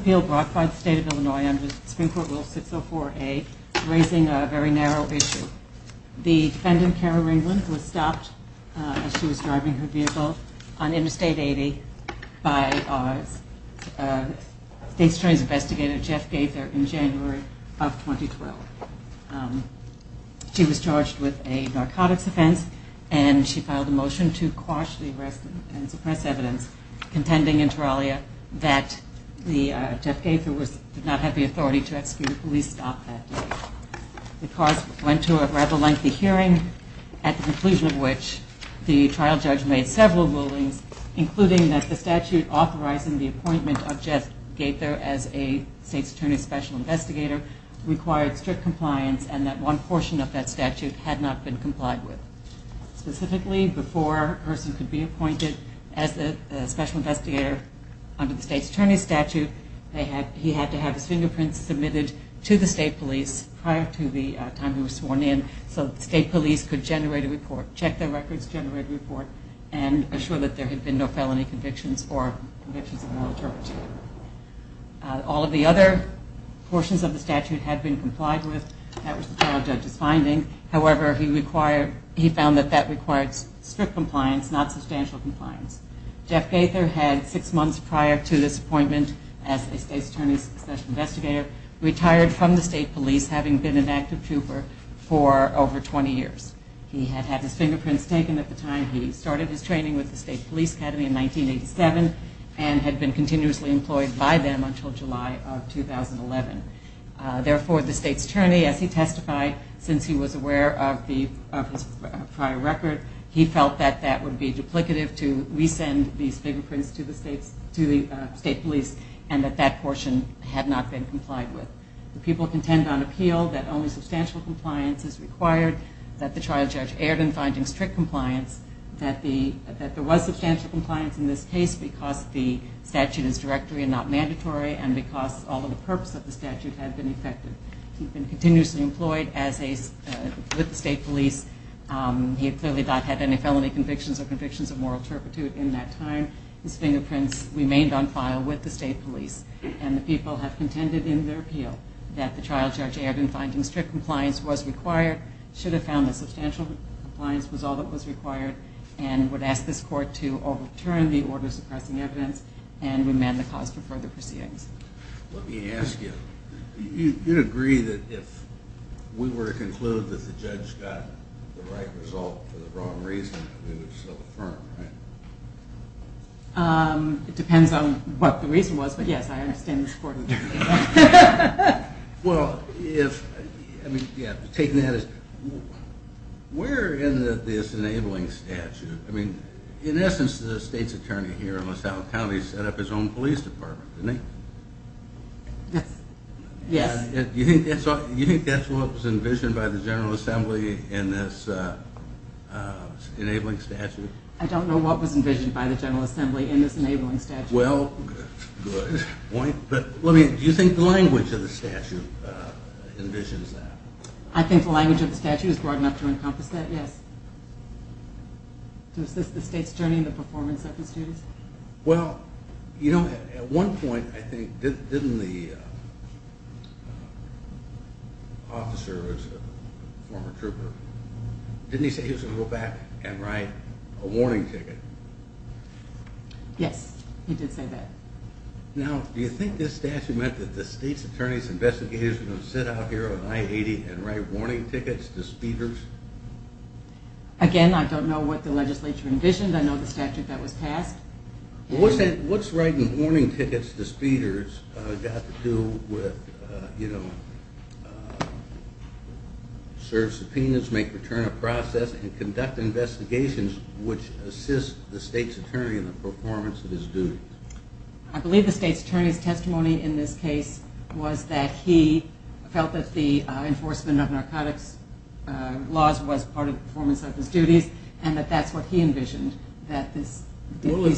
Appeal brought by the State of Illinois under Supreme Court Rule 604-A, raising a very narrow issue. The defendant, Kara Ringland, was stopped as she was driving her vehicle on Interstate 80 by State's Attorney's Investigator, Jeff Gaither, in January of 2012. She was charged with a narcotics offense and she filed a motion to quash the arrest and suppress evidence contending in Teralia that Jeff Gaither did not have the authority to execute a police stop that night. The cause went to a rather lengthy hearing, at the conclusion of which the trial judge made several rulings, including that the statute authorizing the appointment of Jeff Gaither as a State's Attorney's Special Investigator required strict compliance and that one portion of that statute had not been complied with. Specifically, before a person could be appointed as a Special Investigator under the State's Attorney's Statute, he had to have his fingerprints submitted to the State Police prior to the time he was sworn in so the State Police could generate a report, check their records, generate a report, and assure that there had been no felony convictions or convictions of illiteracy. All of the other portions of the statute had been complied with. That was the trial judge's finding. However, he found that that required strict compliance, not substantial compliance. Jeff Gaither had six months prior to this appointment as a State's Attorney's Special Investigator retired from the State Police having been an active trooper for over 20 years. He had had his fingerprints taken at the time he started his training with the State Police Academy in 1987 and had been continuously employed by them until July of 2011. Therefore, the State's Attorney, as he testified, since he was aware of his prior record, he felt that that would be duplicative to resend these fingerprints to the State Police and that that portion had not been complied with. The people contend on appeal that only substantial compliance is required, that the trial judge erred in finding strict compliance, that there was substantial compliance in this case because the statute is directory and not mandatory and because all of the purpose of the statute had been affected. He had been continuously employed with the State Police. He clearly had not had any felony convictions or convictions of moral turpitude in that time. His fingerprints remained on file with the State Police and the people have contended in their appeal that the trial judge erred in finding strict compliance was required, should have found that substantial compliance was all that was required, and would ask this court to overturn the order suppressing evidence and remand the cause for further proceedings. Let me ask you, you'd agree that if we were to conclude that the judge got the right result for the wrong reason, we would still affirm, right? It depends on what the reason was, but yes, I understand this court would do it. Well, taking that as, where in this enabling statute, I mean, in essence the state's attorney here in LaSalle County set up his own police department, didn't he? Yes. Do you think that's what was envisioned by the General Assembly in this enabling statute? I don't know what was envisioned by the General Assembly in this enabling statute. Well, good point, but do you think the language of the statute envisions that? I think the language of the statute is broad enough to encompass that, yes. To assist the state's attorney in the performance of his duties. Well, you know, at one point, I think, didn't the officer who was a former trooper, didn't he say he was going to go back and write a warning ticket? Yes, he did say that. Now, do you think this statute meant that the state's attorney's investigators were going to sit out here on I-80 and write warning tickets to speeders? Again, I don't know what the legislature envisioned. I know the statute that was passed. What's writing warning tickets to speeders got to do with, you know, serve subpoenas, make return of process, and conduct investigations which assist the state's attorney in the performance of his duties? I believe the state's attorney's testimony in this case was that he felt that the enforcement of narcotics laws was part of the performance of his duties, and that that's what he envisioned, that these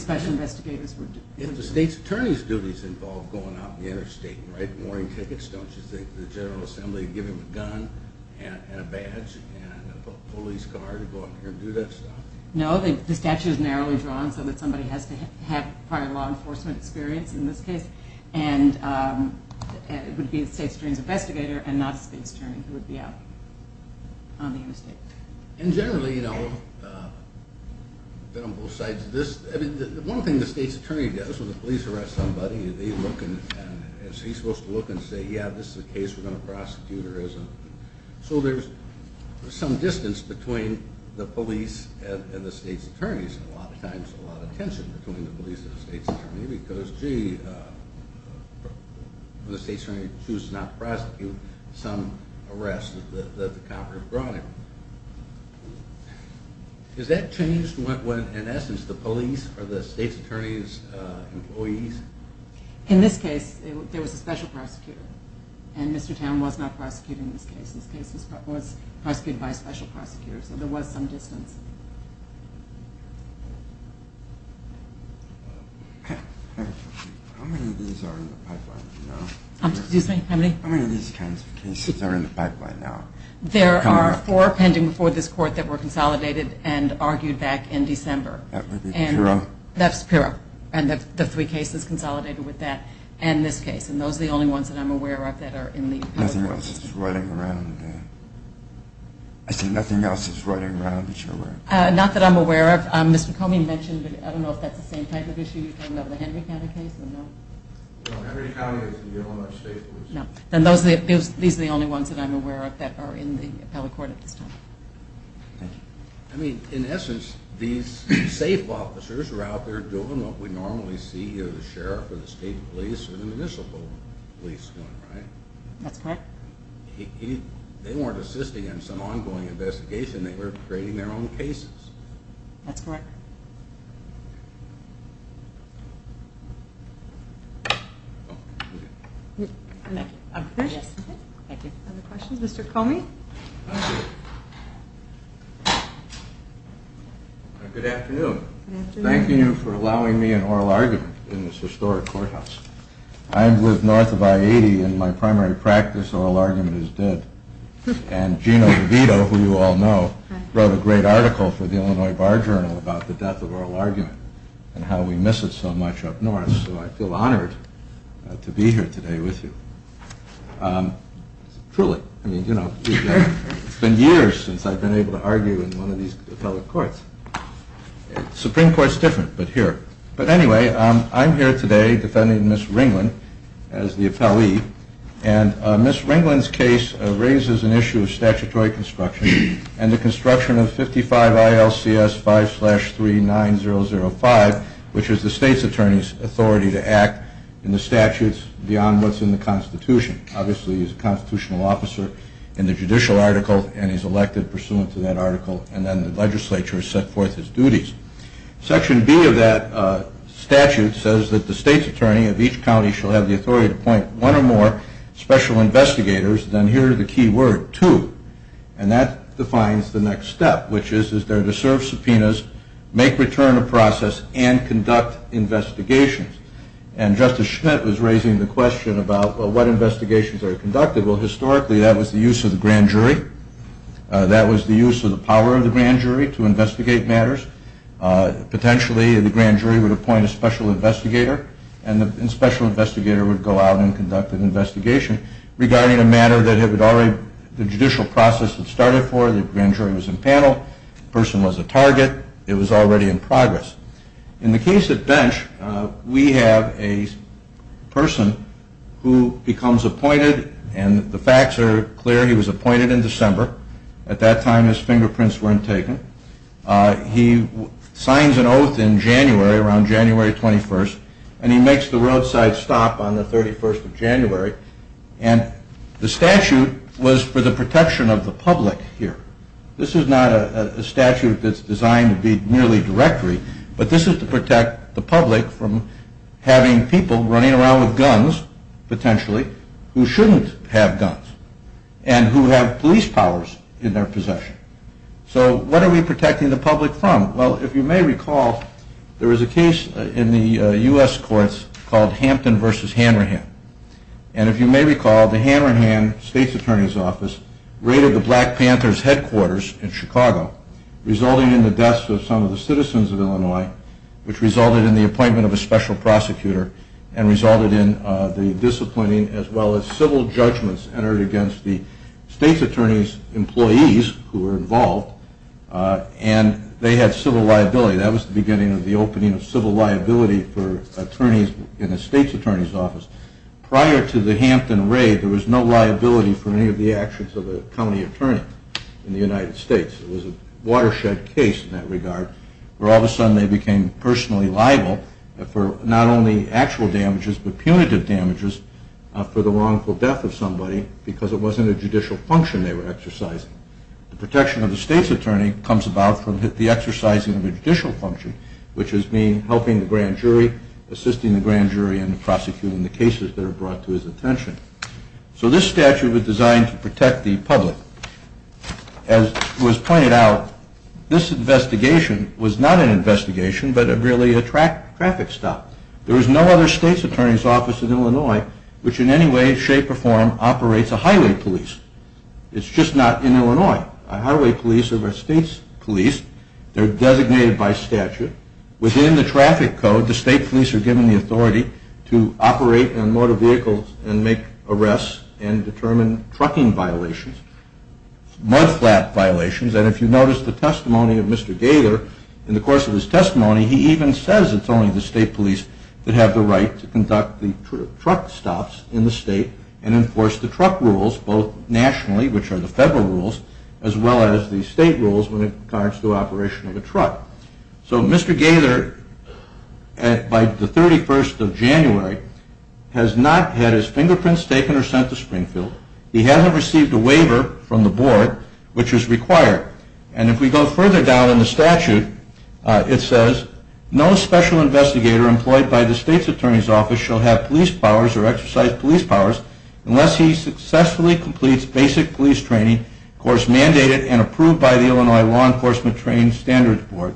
special investigators were doing. If the state's attorney's duties involved going out in the interstate and writing warning tickets, don't you think the General Assembly would give him a gun and a badge and a police car to go out there and do that stuff? No, the statute is narrowly drawn so that somebody has to have prior law enforcement experience in this case, and it would be the state's attorney's investigator and not a state's attorney who would be out on the interstate. And generally, you know, one thing the state's attorney does when the police arrest somebody, he's supposed to look and say, yeah, this is a case we're going to prosecute or isn't. So there's some distance between the police and the state's attorneys. A lot of times, a lot of tension between the police and the state's attorney because, gee, when the state's attorney chooses not to prosecute, some arrests that the Congress brought in. Has that changed when, in essence, the police are the state's attorney's employees? In this case, there was a special prosecutor, and Mr. Towne was not prosecuting this case. This case was prosecuted by a special prosecutor, so there was some distance. How many of these are in the pipeline now? Excuse me? How many? How many of these kinds of cases are in the pipeline now? There are four pending before this court that were consolidated and argued back in December. That would be Pirro? That's Pirro. And the three cases consolidated with that and this case. And those are the only ones that I'm aware of that are in the pipeline. Nothing else is riding around. I said nothing else is riding around that you're aware of. Not that I'm aware of. Mr. Comey mentioned, I don't know if that's the same type of issue you're talking about with the Henry County case or no? No, Henry County is the only one that's state police. Then these are the only ones that I'm aware of that are in the appellate court at this time. Thank you. I mean, in essence, these safe officers are out there doing what we normally see the sheriff or the state police or the municipal police doing, right? That's correct. They weren't assisting in some ongoing investigation. They were creating their own cases. That's correct. Other questions? Mr. Comey? Good afternoon. Thank you for allowing me an oral argument in this historic courthouse. I live north of I-80 and my primary practice oral argument is dead. And Gina DeVito, who you all know, wrote a great article for the Illinois Bar Journal about this case. And how we miss it so much up north. So I feel honored to be here today with you. Truly, I mean, you know, it's been years since I've been able to argue in one of these appellate courts. The Supreme Court is different, but here. But anyway, I'm here today defending Ms. Ringland as the appellee. And Ms. Ringland's case raises an issue of statutory construction and the construction of 55 ILCS 5-39005, which is the state's attorney's authority to act in the statutes beyond what's in the Constitution. Obviously, he's a constitutional officer in the judicial article and he's elected pursuant to that article. And then the legislature has set forth his duties. Section B of that statute says that the state's attorney of each county shall have the authority to appoint one or more special investigators. Then here are the key word, two. And that defines the next step, which is, is there to serve subpoenas, make return of process, and conduct investigations. And Justice Schmidt was raising the question about what investigations are conducted. Well, historically, that was the use of the grand jury. That was the use of the power of the grand jury to investigate matters. Potentially, the grand jury would appoint a special investigator, and the special investigator would go out and conduct an investigation regarding a matter that had already, the judicial process had started for it. The grand jury was in panel. The person was a target. It was already in progress. In the case of Bench, we have a person who becomes appointed, and the facts are clear. He was appointed in December. At that time, his fingerprints weren't taken. He signs an oath in January, around January 21st, and he makes the roadside stop on the 31st of January. And the statute was for the protection of the public here. This is not a statute that's designed to be merely directory, but this is to protect the public from having people running around with guns, potentially, who shouldn't have guns, and who have police powers in their possession. So what are we protecting the public from? Well, if you may recall, there is a case in the U.S. courts called Hampton v. Hanrahan. And if you may recall, the Hanrahan state's attorney's office raided the Black Panther's headquarters in Chicago, resulting in the deaths of some of the citizens of Illinois, which resulted in the appointment of a special prosecutor, and resulted in the disappointing as well as civil judgments entered against the state's attorney's employees, who were involved, and they had civil liability. That was the beginning of the opening of civil liability in the state's attorney's office. Prior to the Hampton raid, there was no liability for any of the actions of a county attorney in the United States. It was a watershed case in that regard, where all of a sudden they became personally liable for not only actual damages, but punitive damages for the wrongful death of somebody because it wasn't a judicial function they were exercising. The protection of the state's attorney comes about from the exercising of a judicial function, which has been helping the grand jury, assisting the grand jury in prosecuting the cases that are brought to his attention. So this statute was designed to protect the public. As was pointed out, this investigation was not an investigation, but really a traffic stop. There was no other state's attorney's office in Illinois which in any way, shape, or form operates a highway police. It's just not in Illinois. A highway police are a state's police. They're designated by statute. Within the traffic code, the state police are given the authority to operate on motor vehicles and make arrests and determine trucking violations, mudflap violations. And if you notice the testimony of Mr. Gaylor, in the course of his testimony, he even says it's only the state police that have the right to conduct the truck stops in the state and enforce the truck rules both nationally, which are the federal rules, as well as the state rules when it comes to operation of a truck. So Mr. Gaylor, by the 31st of January, has not had his fingerprints taken or sent to Springfield. He hasn't received a waiver from the board, which is required. And if we go further down in the statute, it says, no special investigator employed by the state's attorney's office shall have police powers or exercise police powers unless he successfully completes basic police training mandated and approved by the Illinois Law Enforcement Training Standards Board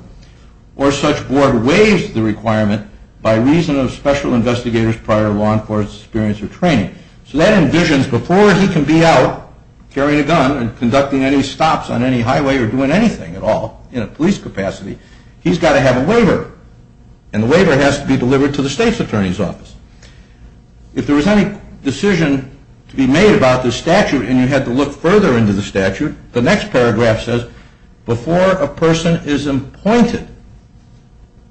or such board waives the requirement by reason of special investigators prior to law enforcement experience or training. So that envisions before he can be out carrying a gun and conducting any stops on any highway or doing anything at all in a police capacity, he's got to have a waiver. And the waiver has to be delivered to the state's attorney's office. If there was any decision to be made about this statute and you had to look further into the statute, the next paragraph says, before a person is appointed,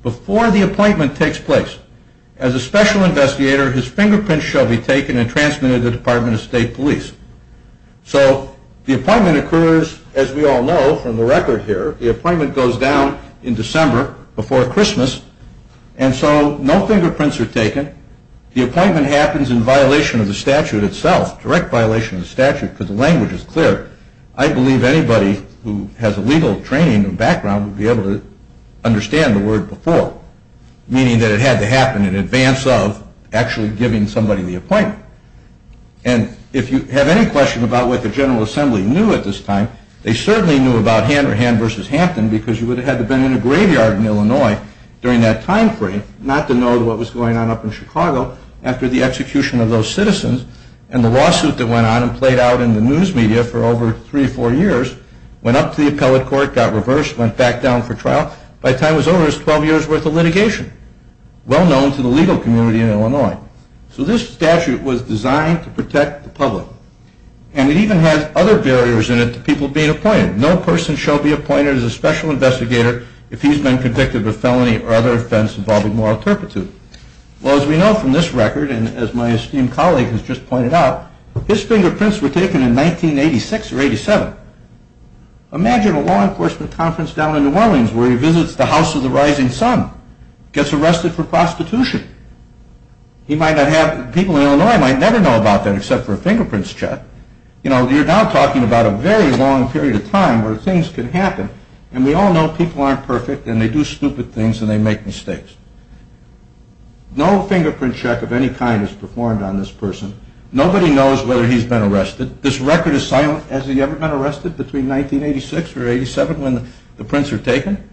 before the appointment takes place, as a special investigator, his fingerprints shall be taken and transmitted to the Department of State Police. So the appointment occurs, as we all know from the record here, the appointment goes down in December before Christmas. And so no fingerprints are taken. The appointment happens in violation of the statute itself, direct violation of the statute because the language is clear. I believe anybody who has a legal training and background would be able to understand the word before, meaning that it had to happen in advance of actually giving somebody the appointment. And if you have any question about what the General Assembly knew at this time, they certainly knew about Hanrahan versus Hampton because you would have had to have been in a graveyard in Illinois during that time frame not to know what was going on up in Chicago after the execution of those citizens. And the lawsuit that went on and played out in the news media for over three or four years went up to the appellate court, got reversed, went back down for trial. By the time it was over, it was 12 years' worth of litigation, well known to the legal community in Illinois. So this statute was designed to protect the public. And it even has other barriers in it to people being appointed. No person shall be appointed as a special investigator if he's been convicted of a felony or other offense involving moral turpitude. Well, as we know from this record and as my esteemed colleague has just pointed out, his fingerprints were taken in 1986 or 87. Imagine a law enforcement conference down in New Orleans where he visits the House of the Rising Sun, gets arrested for prostitution. People in Illinois might never know about that except for a fingerprints check. You're now talking about a very long period of time where things can happen. And we all know people aren't perfect and they do stupid things and they make mistakes. No fingerprint check of any kind is performed on this person. Nobody knows whether he's been arrested. This record is silent. Has he ever been arrested between 1986 or 87 when the prints were taken?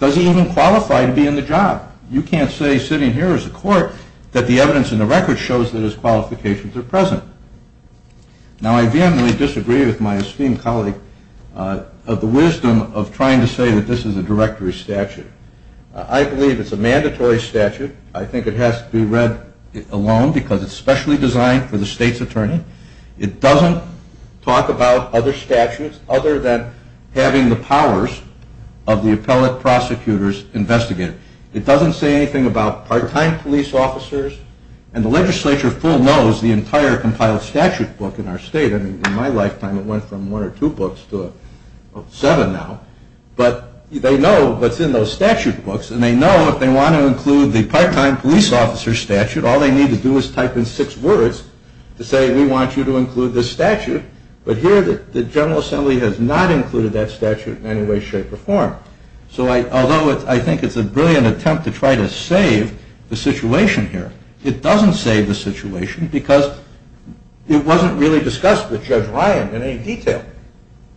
Does he even qualify to be in the job? You can't say sitting here as a court that the evidence in the record shows that his qualifications are present. Now, I vehemently disagree with my esteemed colleague of the wisdom of trying to say that this is a directory statute. I believe it's a mandatory statute. I think it has to be read alone because it's specially designed for the state's attorney. It doesn't talk about other statutes other than having the powers of the appellate prosecutor's investigator. It doesn't say anything about part-time police officers. And the legislature full knows the entire compiled statute book in our state. I mean, in my lifetime, it went from one or two books to seven now. But they know what's in those statute books and they know if they want to include the part-time police officer statute, all they need to do is type in six words to say we want you to include this statute. But here, the General Assembly has not included that statute in any way, shape, or form. So although I think it's a brilliant attempt to try to save the situation here, it doesn't save the situation because it wasn't really discussed with Judge Ryan in any detail.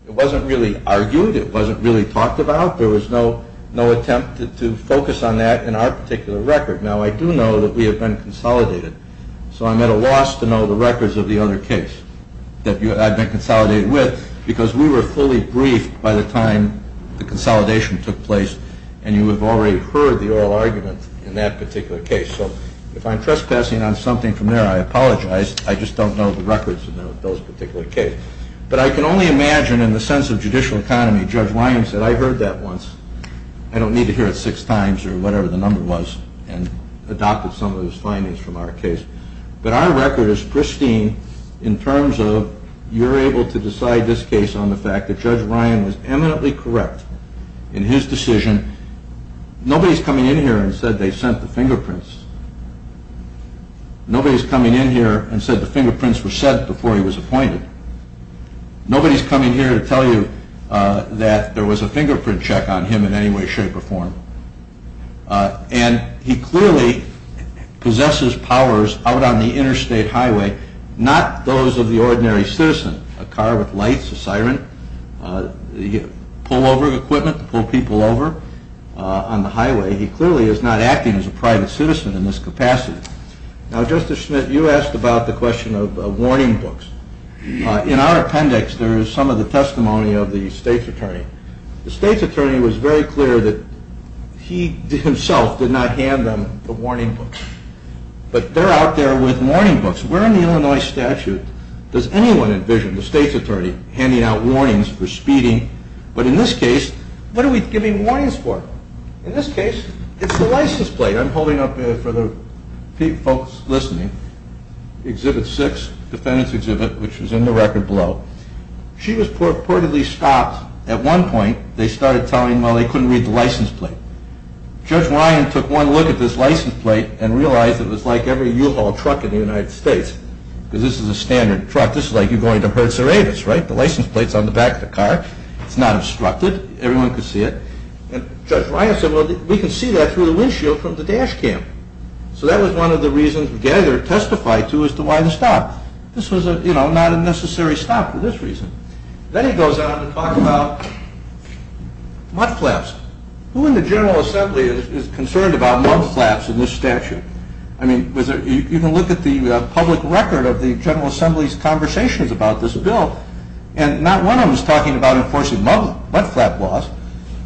It wasn't really argued. It wasn't really talked about. There was no attempt to focus on that in our particular record. Now, I do know that we have been consolidated. So I'm at a loss to know the records of the other case that I've been consolidated with because we were fully briefed by the time the consolidation took place and you have already heard the oral argument in that particular case. So if I'm trespassing on something from there, I apologize. I just don't know the records of those particular cases. But I can only imagine in the sense of judicial economy, Judge Ryan said, I heard that once. I don't need to hear it six times or whatever the number was and adopted some of those findings from our case. But our record is pristine in terms of you're able to decide this case on the fact that Judge Ryan was eminently correct in his decision. Nobody's coming in here and said they sent the fingerprints. Nobody's coming in here and said the fingerprints were sent before he was appointed. Nobody's coming here to tell you that there was a fingerprint check on him in any way, shape, or form. And he clearly possesses powers out on the interstate highway. Not those of the ordinary citizen. A car with lights, a siren, pullover equipment to pull people over on the highway. He clearly is not acting as a private citizen in this capacity. Now, Justice Schmidt, you asked about the question of warning books. In our appendix, there is some of the testimony of the state's attorney. The state's attorney was very clear that he himself did not hand them the warning books. But they're out there with warning books. Where in the Illinois statute does anyone envision the state's attorney handing out warnings for speeding? But in this case, what are we giving warnings for? In this case, it's the license plate. I'm holding up for the folks listening. Exhibit 6, defendant's exhibit, which is in the record below. She was purportedly stopped at one point. They started telling, well, they couldn't read the license plate. Judge Ryan took one look at this license plate and realized it was like every U-Haul truck in the United States. Because this is a standard truck. This is like you're going to Hertz or Avis, right? The license plate's on the back of the car. It's not obstructed. Everyone could see it. And Judge Ryan said, well, we can see that through the windshield from the dash cam. So that was one of the reasons, again, they're testified to as to why the stop. This was not a necessary stop for this reason. Then he goes on to talk about mudflaps. Who in the General Assembly is concerned about mudflaps in this statute? I mean, you can look at the public record of the General Assembly's conversations about this bill, and not one of them is talking about enforcing mudflap laws.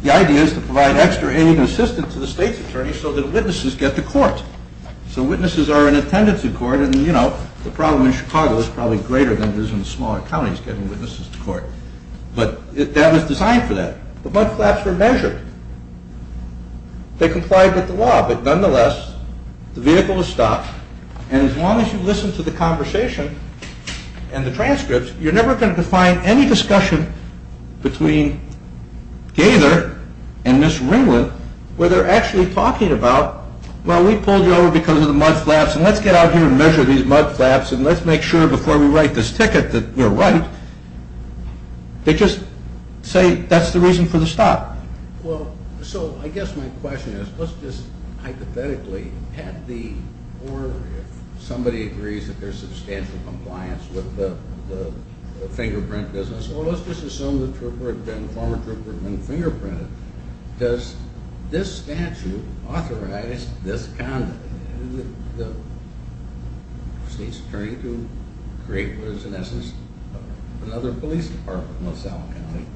The idea is to provide extra aid and assistance to the state's attorney so that witnesses get to court. So witnesses are in attendance in court. And, you know, the problem in Chicago is probably greater than it is in the smaller counties getting witnesses to court. But that was designed for that. The mudflaps were measured. They complied with the law. But nonetheless, the vehicle was stopped. And as long as you listen to the conversation and the transcripts, you're never going to find any discussion between Gaither and Ms. Ringwood where they're actually talking about, well, we pulled you over because of the mudflaps, and let's get out here and measure these mudflaps, and let's make sure before we write this ticket that you're right. They just say that's the reason for the stop. Well, so I guess my question is, let's just hypothetically have the order. If somebody agrees that there's substantial compliance with the fingerprint business, well, let's just assume the former trooper had been fingerprinted. Does this statute authorize this conduct? The state's attorney to create what is, in essence, another police department in Los Alamos County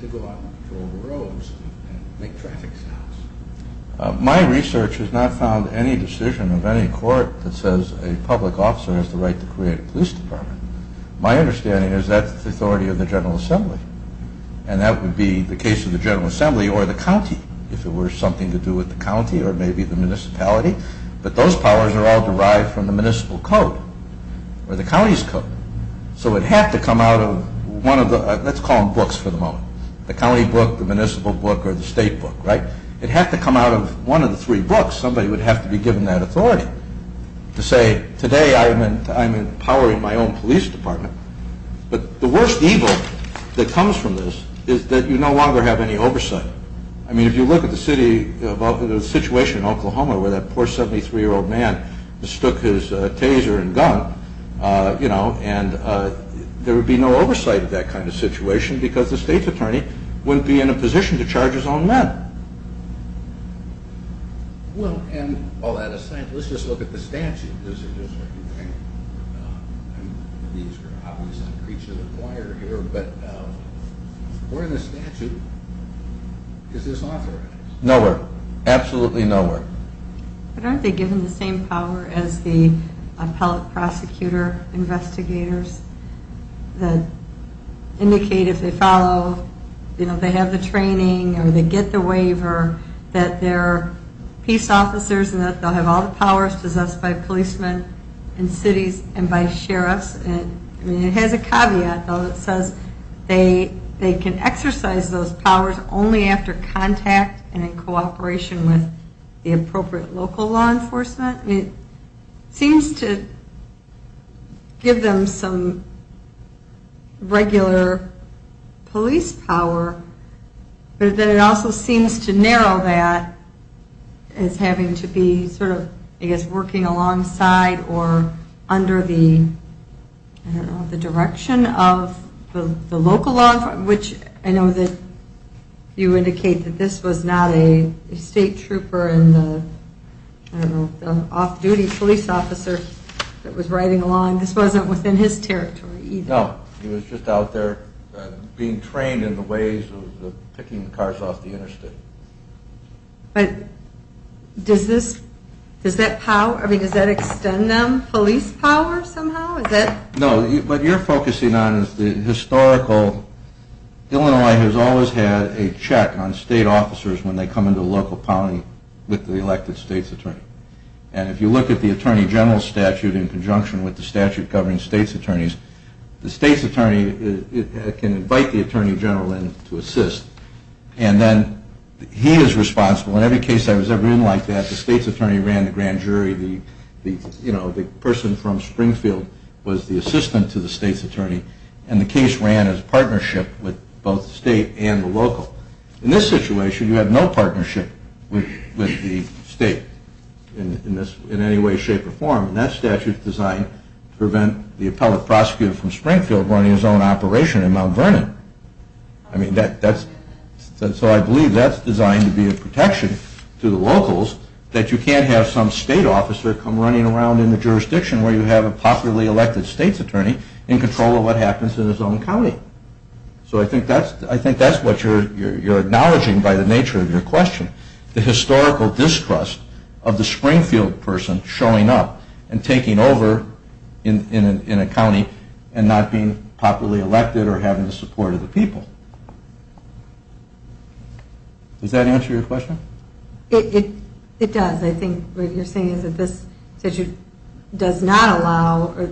to go out and patrol the roads and make traffic stops. My research has not found any decision of any court that says a public officer has the right to create a police department. My understanding is that's the authority of the General Assembly. And that would be the case of the General Assembly or the county, if it were something to do with the county or maybe the municipality. But those powers are all derived from the municipal code or the county's code. So it'd have to come out of one of the, let's call them books for the moment, the county book, the municipal book, or the state book, right? It'd have to come out of one of the three books. Somebody would have to be given that authority to say, I'm empowering my own police department. But the worst evil that comes from this is that you no longer have any oversight. I mean, if you look at the situation in Oklahoma where that poor 73-year-old man mistook his taser and gun, there would be no oversight of that kind of situation because the state's attorney wouldn't be in a position to charge his own men. Well, and all that aside, let's just look at the statute. This is just what you think. These are obviously a creature of the choir here, but where in the statute is this authorized? Nowhere. Absolutely nowhere. But aren't they given the same power as the appellate prosecutor investigators that indicate if they follow, you know, they have the training or they get the waiver that they're peace officers and that they'll have all the powers possessed by policemen in cities and by sheriffs? I mean, it has a caveat, though. It says they can exercise those powers only after contact and in cooperation with the appropriate local law enforcement. It seems to give them some regular police power, but then it also seems to narrow that as having to be sort of, I guess, working alongside or under the, I don't know, the direction of the local law, which I know that you indicate that this was not a state trooper and an off-duty police officer that was riding along. This wasn't within his territory either. No. He was just out there being trained in the ways of picking cars off the interstate. But does this, does that power, I mean, does that extend them police power somehow? No, what you're focusing on is the historical. Illinois has always had a check on state officers when they come into a local county with the elected state's attorney. And if you look at the Attorney General's statute in conjunction with the statute governing state's attorneys, the state's attorney can invite the Attorney General in to assist and then he is responsible. In every case I was ever in like that, the state's attorney ran the grand jury, the person from Springfield was the assistant to the state's attorney, and the case ran as a partnership with both the state and the local. In this situation, you have no partnership with the state in any way, shape, or form. And that statute is designed to prevent the appellate prosecutor from Springfield running his own operation in Mount Vernon. I mean, that's, so I believe that's designed to be a protection to the locals that you can't have some state officer come running around in the jurisdiction where you have a popularly elected state's attorney in control of what happens in his own county. So I think that's what you're acknowledging by the nature of your question, the historical distrust of the Springfield person showing up and taking over in a county and not being popularly elected or having the support of the people. Does that answer your question? It does. I think what you're saying is that this statute does not allow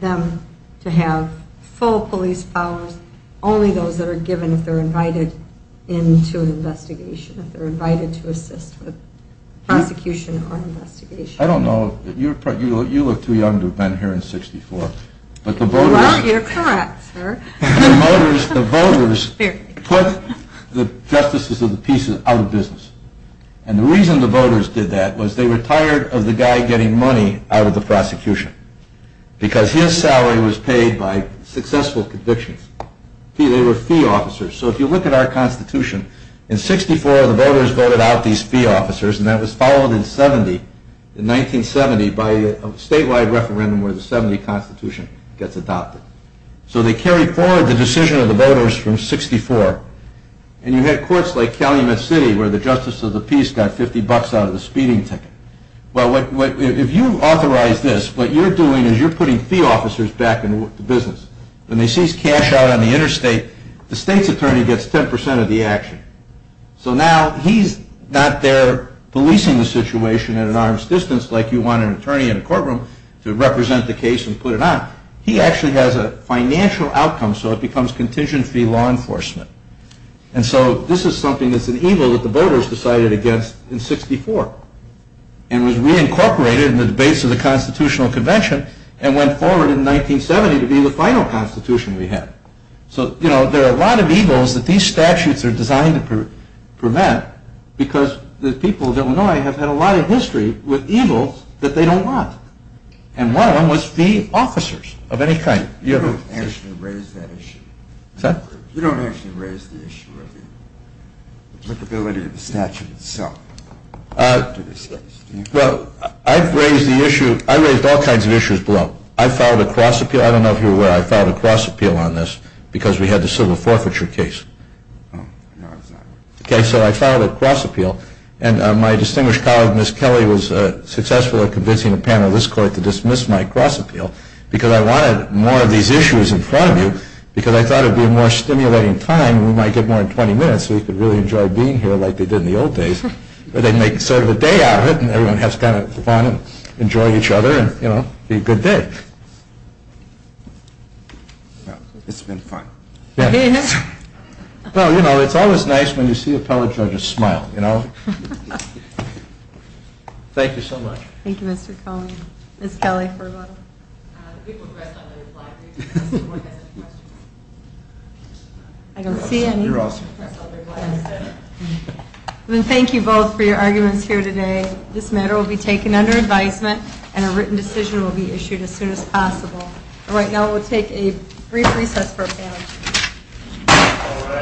them to have full police powers, only those that are given if they're invited into an investigation, if they're invited to assist with prosecution or investigation. I don't know. You look too young to have been here in 64. Well, you're correct, sir. The voters put the justices of the pieces out of business. And the reason the voters did that was they were tired of the guy getting money out of the prosecution because his salary was paid by successful convictions. They were fee officers. So if you look at our Constitution, in 64 the voters voted out these fee officers and that was followed in 70, in 1970, by a statewide referendum where the 70 Constitution gets adopted. So they carried forward the decision of the voters from 64. And you had courts like Calumet City where the justice of the piece got 50 bucks out of the speeding ticket. Well, if you authorize this, what you're doing is you're putting fee officers back in the business. When they seize cash out on the interstate, the state's attorney gets 10% of the action. So now he's not there policing the situation at an arm's distance like you want an attorney in a courtroom to represent the case and put it on. He actually has a financial outcome so it becomes contingent fee law enforcement. And so this is something that's an evil that the voters decided against in 64 and was reincorporated in the debates of the Constitutional Convention and went forward in 1970 to be the final Constitution we had. So, you know, there are a lot of evils that these statutes are designed to prevent because the people of Illinois have had a lot of history with evils that they don't want. And one of them was fee officers of any kind. You don't actually raise that issue. What's that? You don't actually raise the issue of the applicability of the statute itself. Well, I've raised all kinds of issues below. I filed a cross appeal. I don't know if you're aware I filed a cross appeal on this because we had the civil forfeiture case. No, I was not. Okay, so I filed a cross appeal. And my distinguished colleague, Ms. Kelly, was successful at convincing a panel of this court to dismiss my cross appeal because I wanted more of these issues in front of you because I thought it would be a more stimulating time and we might get more in 20 minutes so we could really enjoy being here like they did in the old days where they make sort of a day out of it and everyone has kind of fun and enjoy each other and, you know, be a good day. It's been fun. Well, you know, it's always nice when you see appellate judges smile, you know. Thank you so much. Thank you, Mr. Cohen. Ms. Kelly, for a moment. We progressed on the reply. Does anyone have any questions? I don't see any. You're awesome. Well, thank you both for your arguments here today. and a written decision will be issued as soon as possible. And right now we'll take a brief recess for a panel.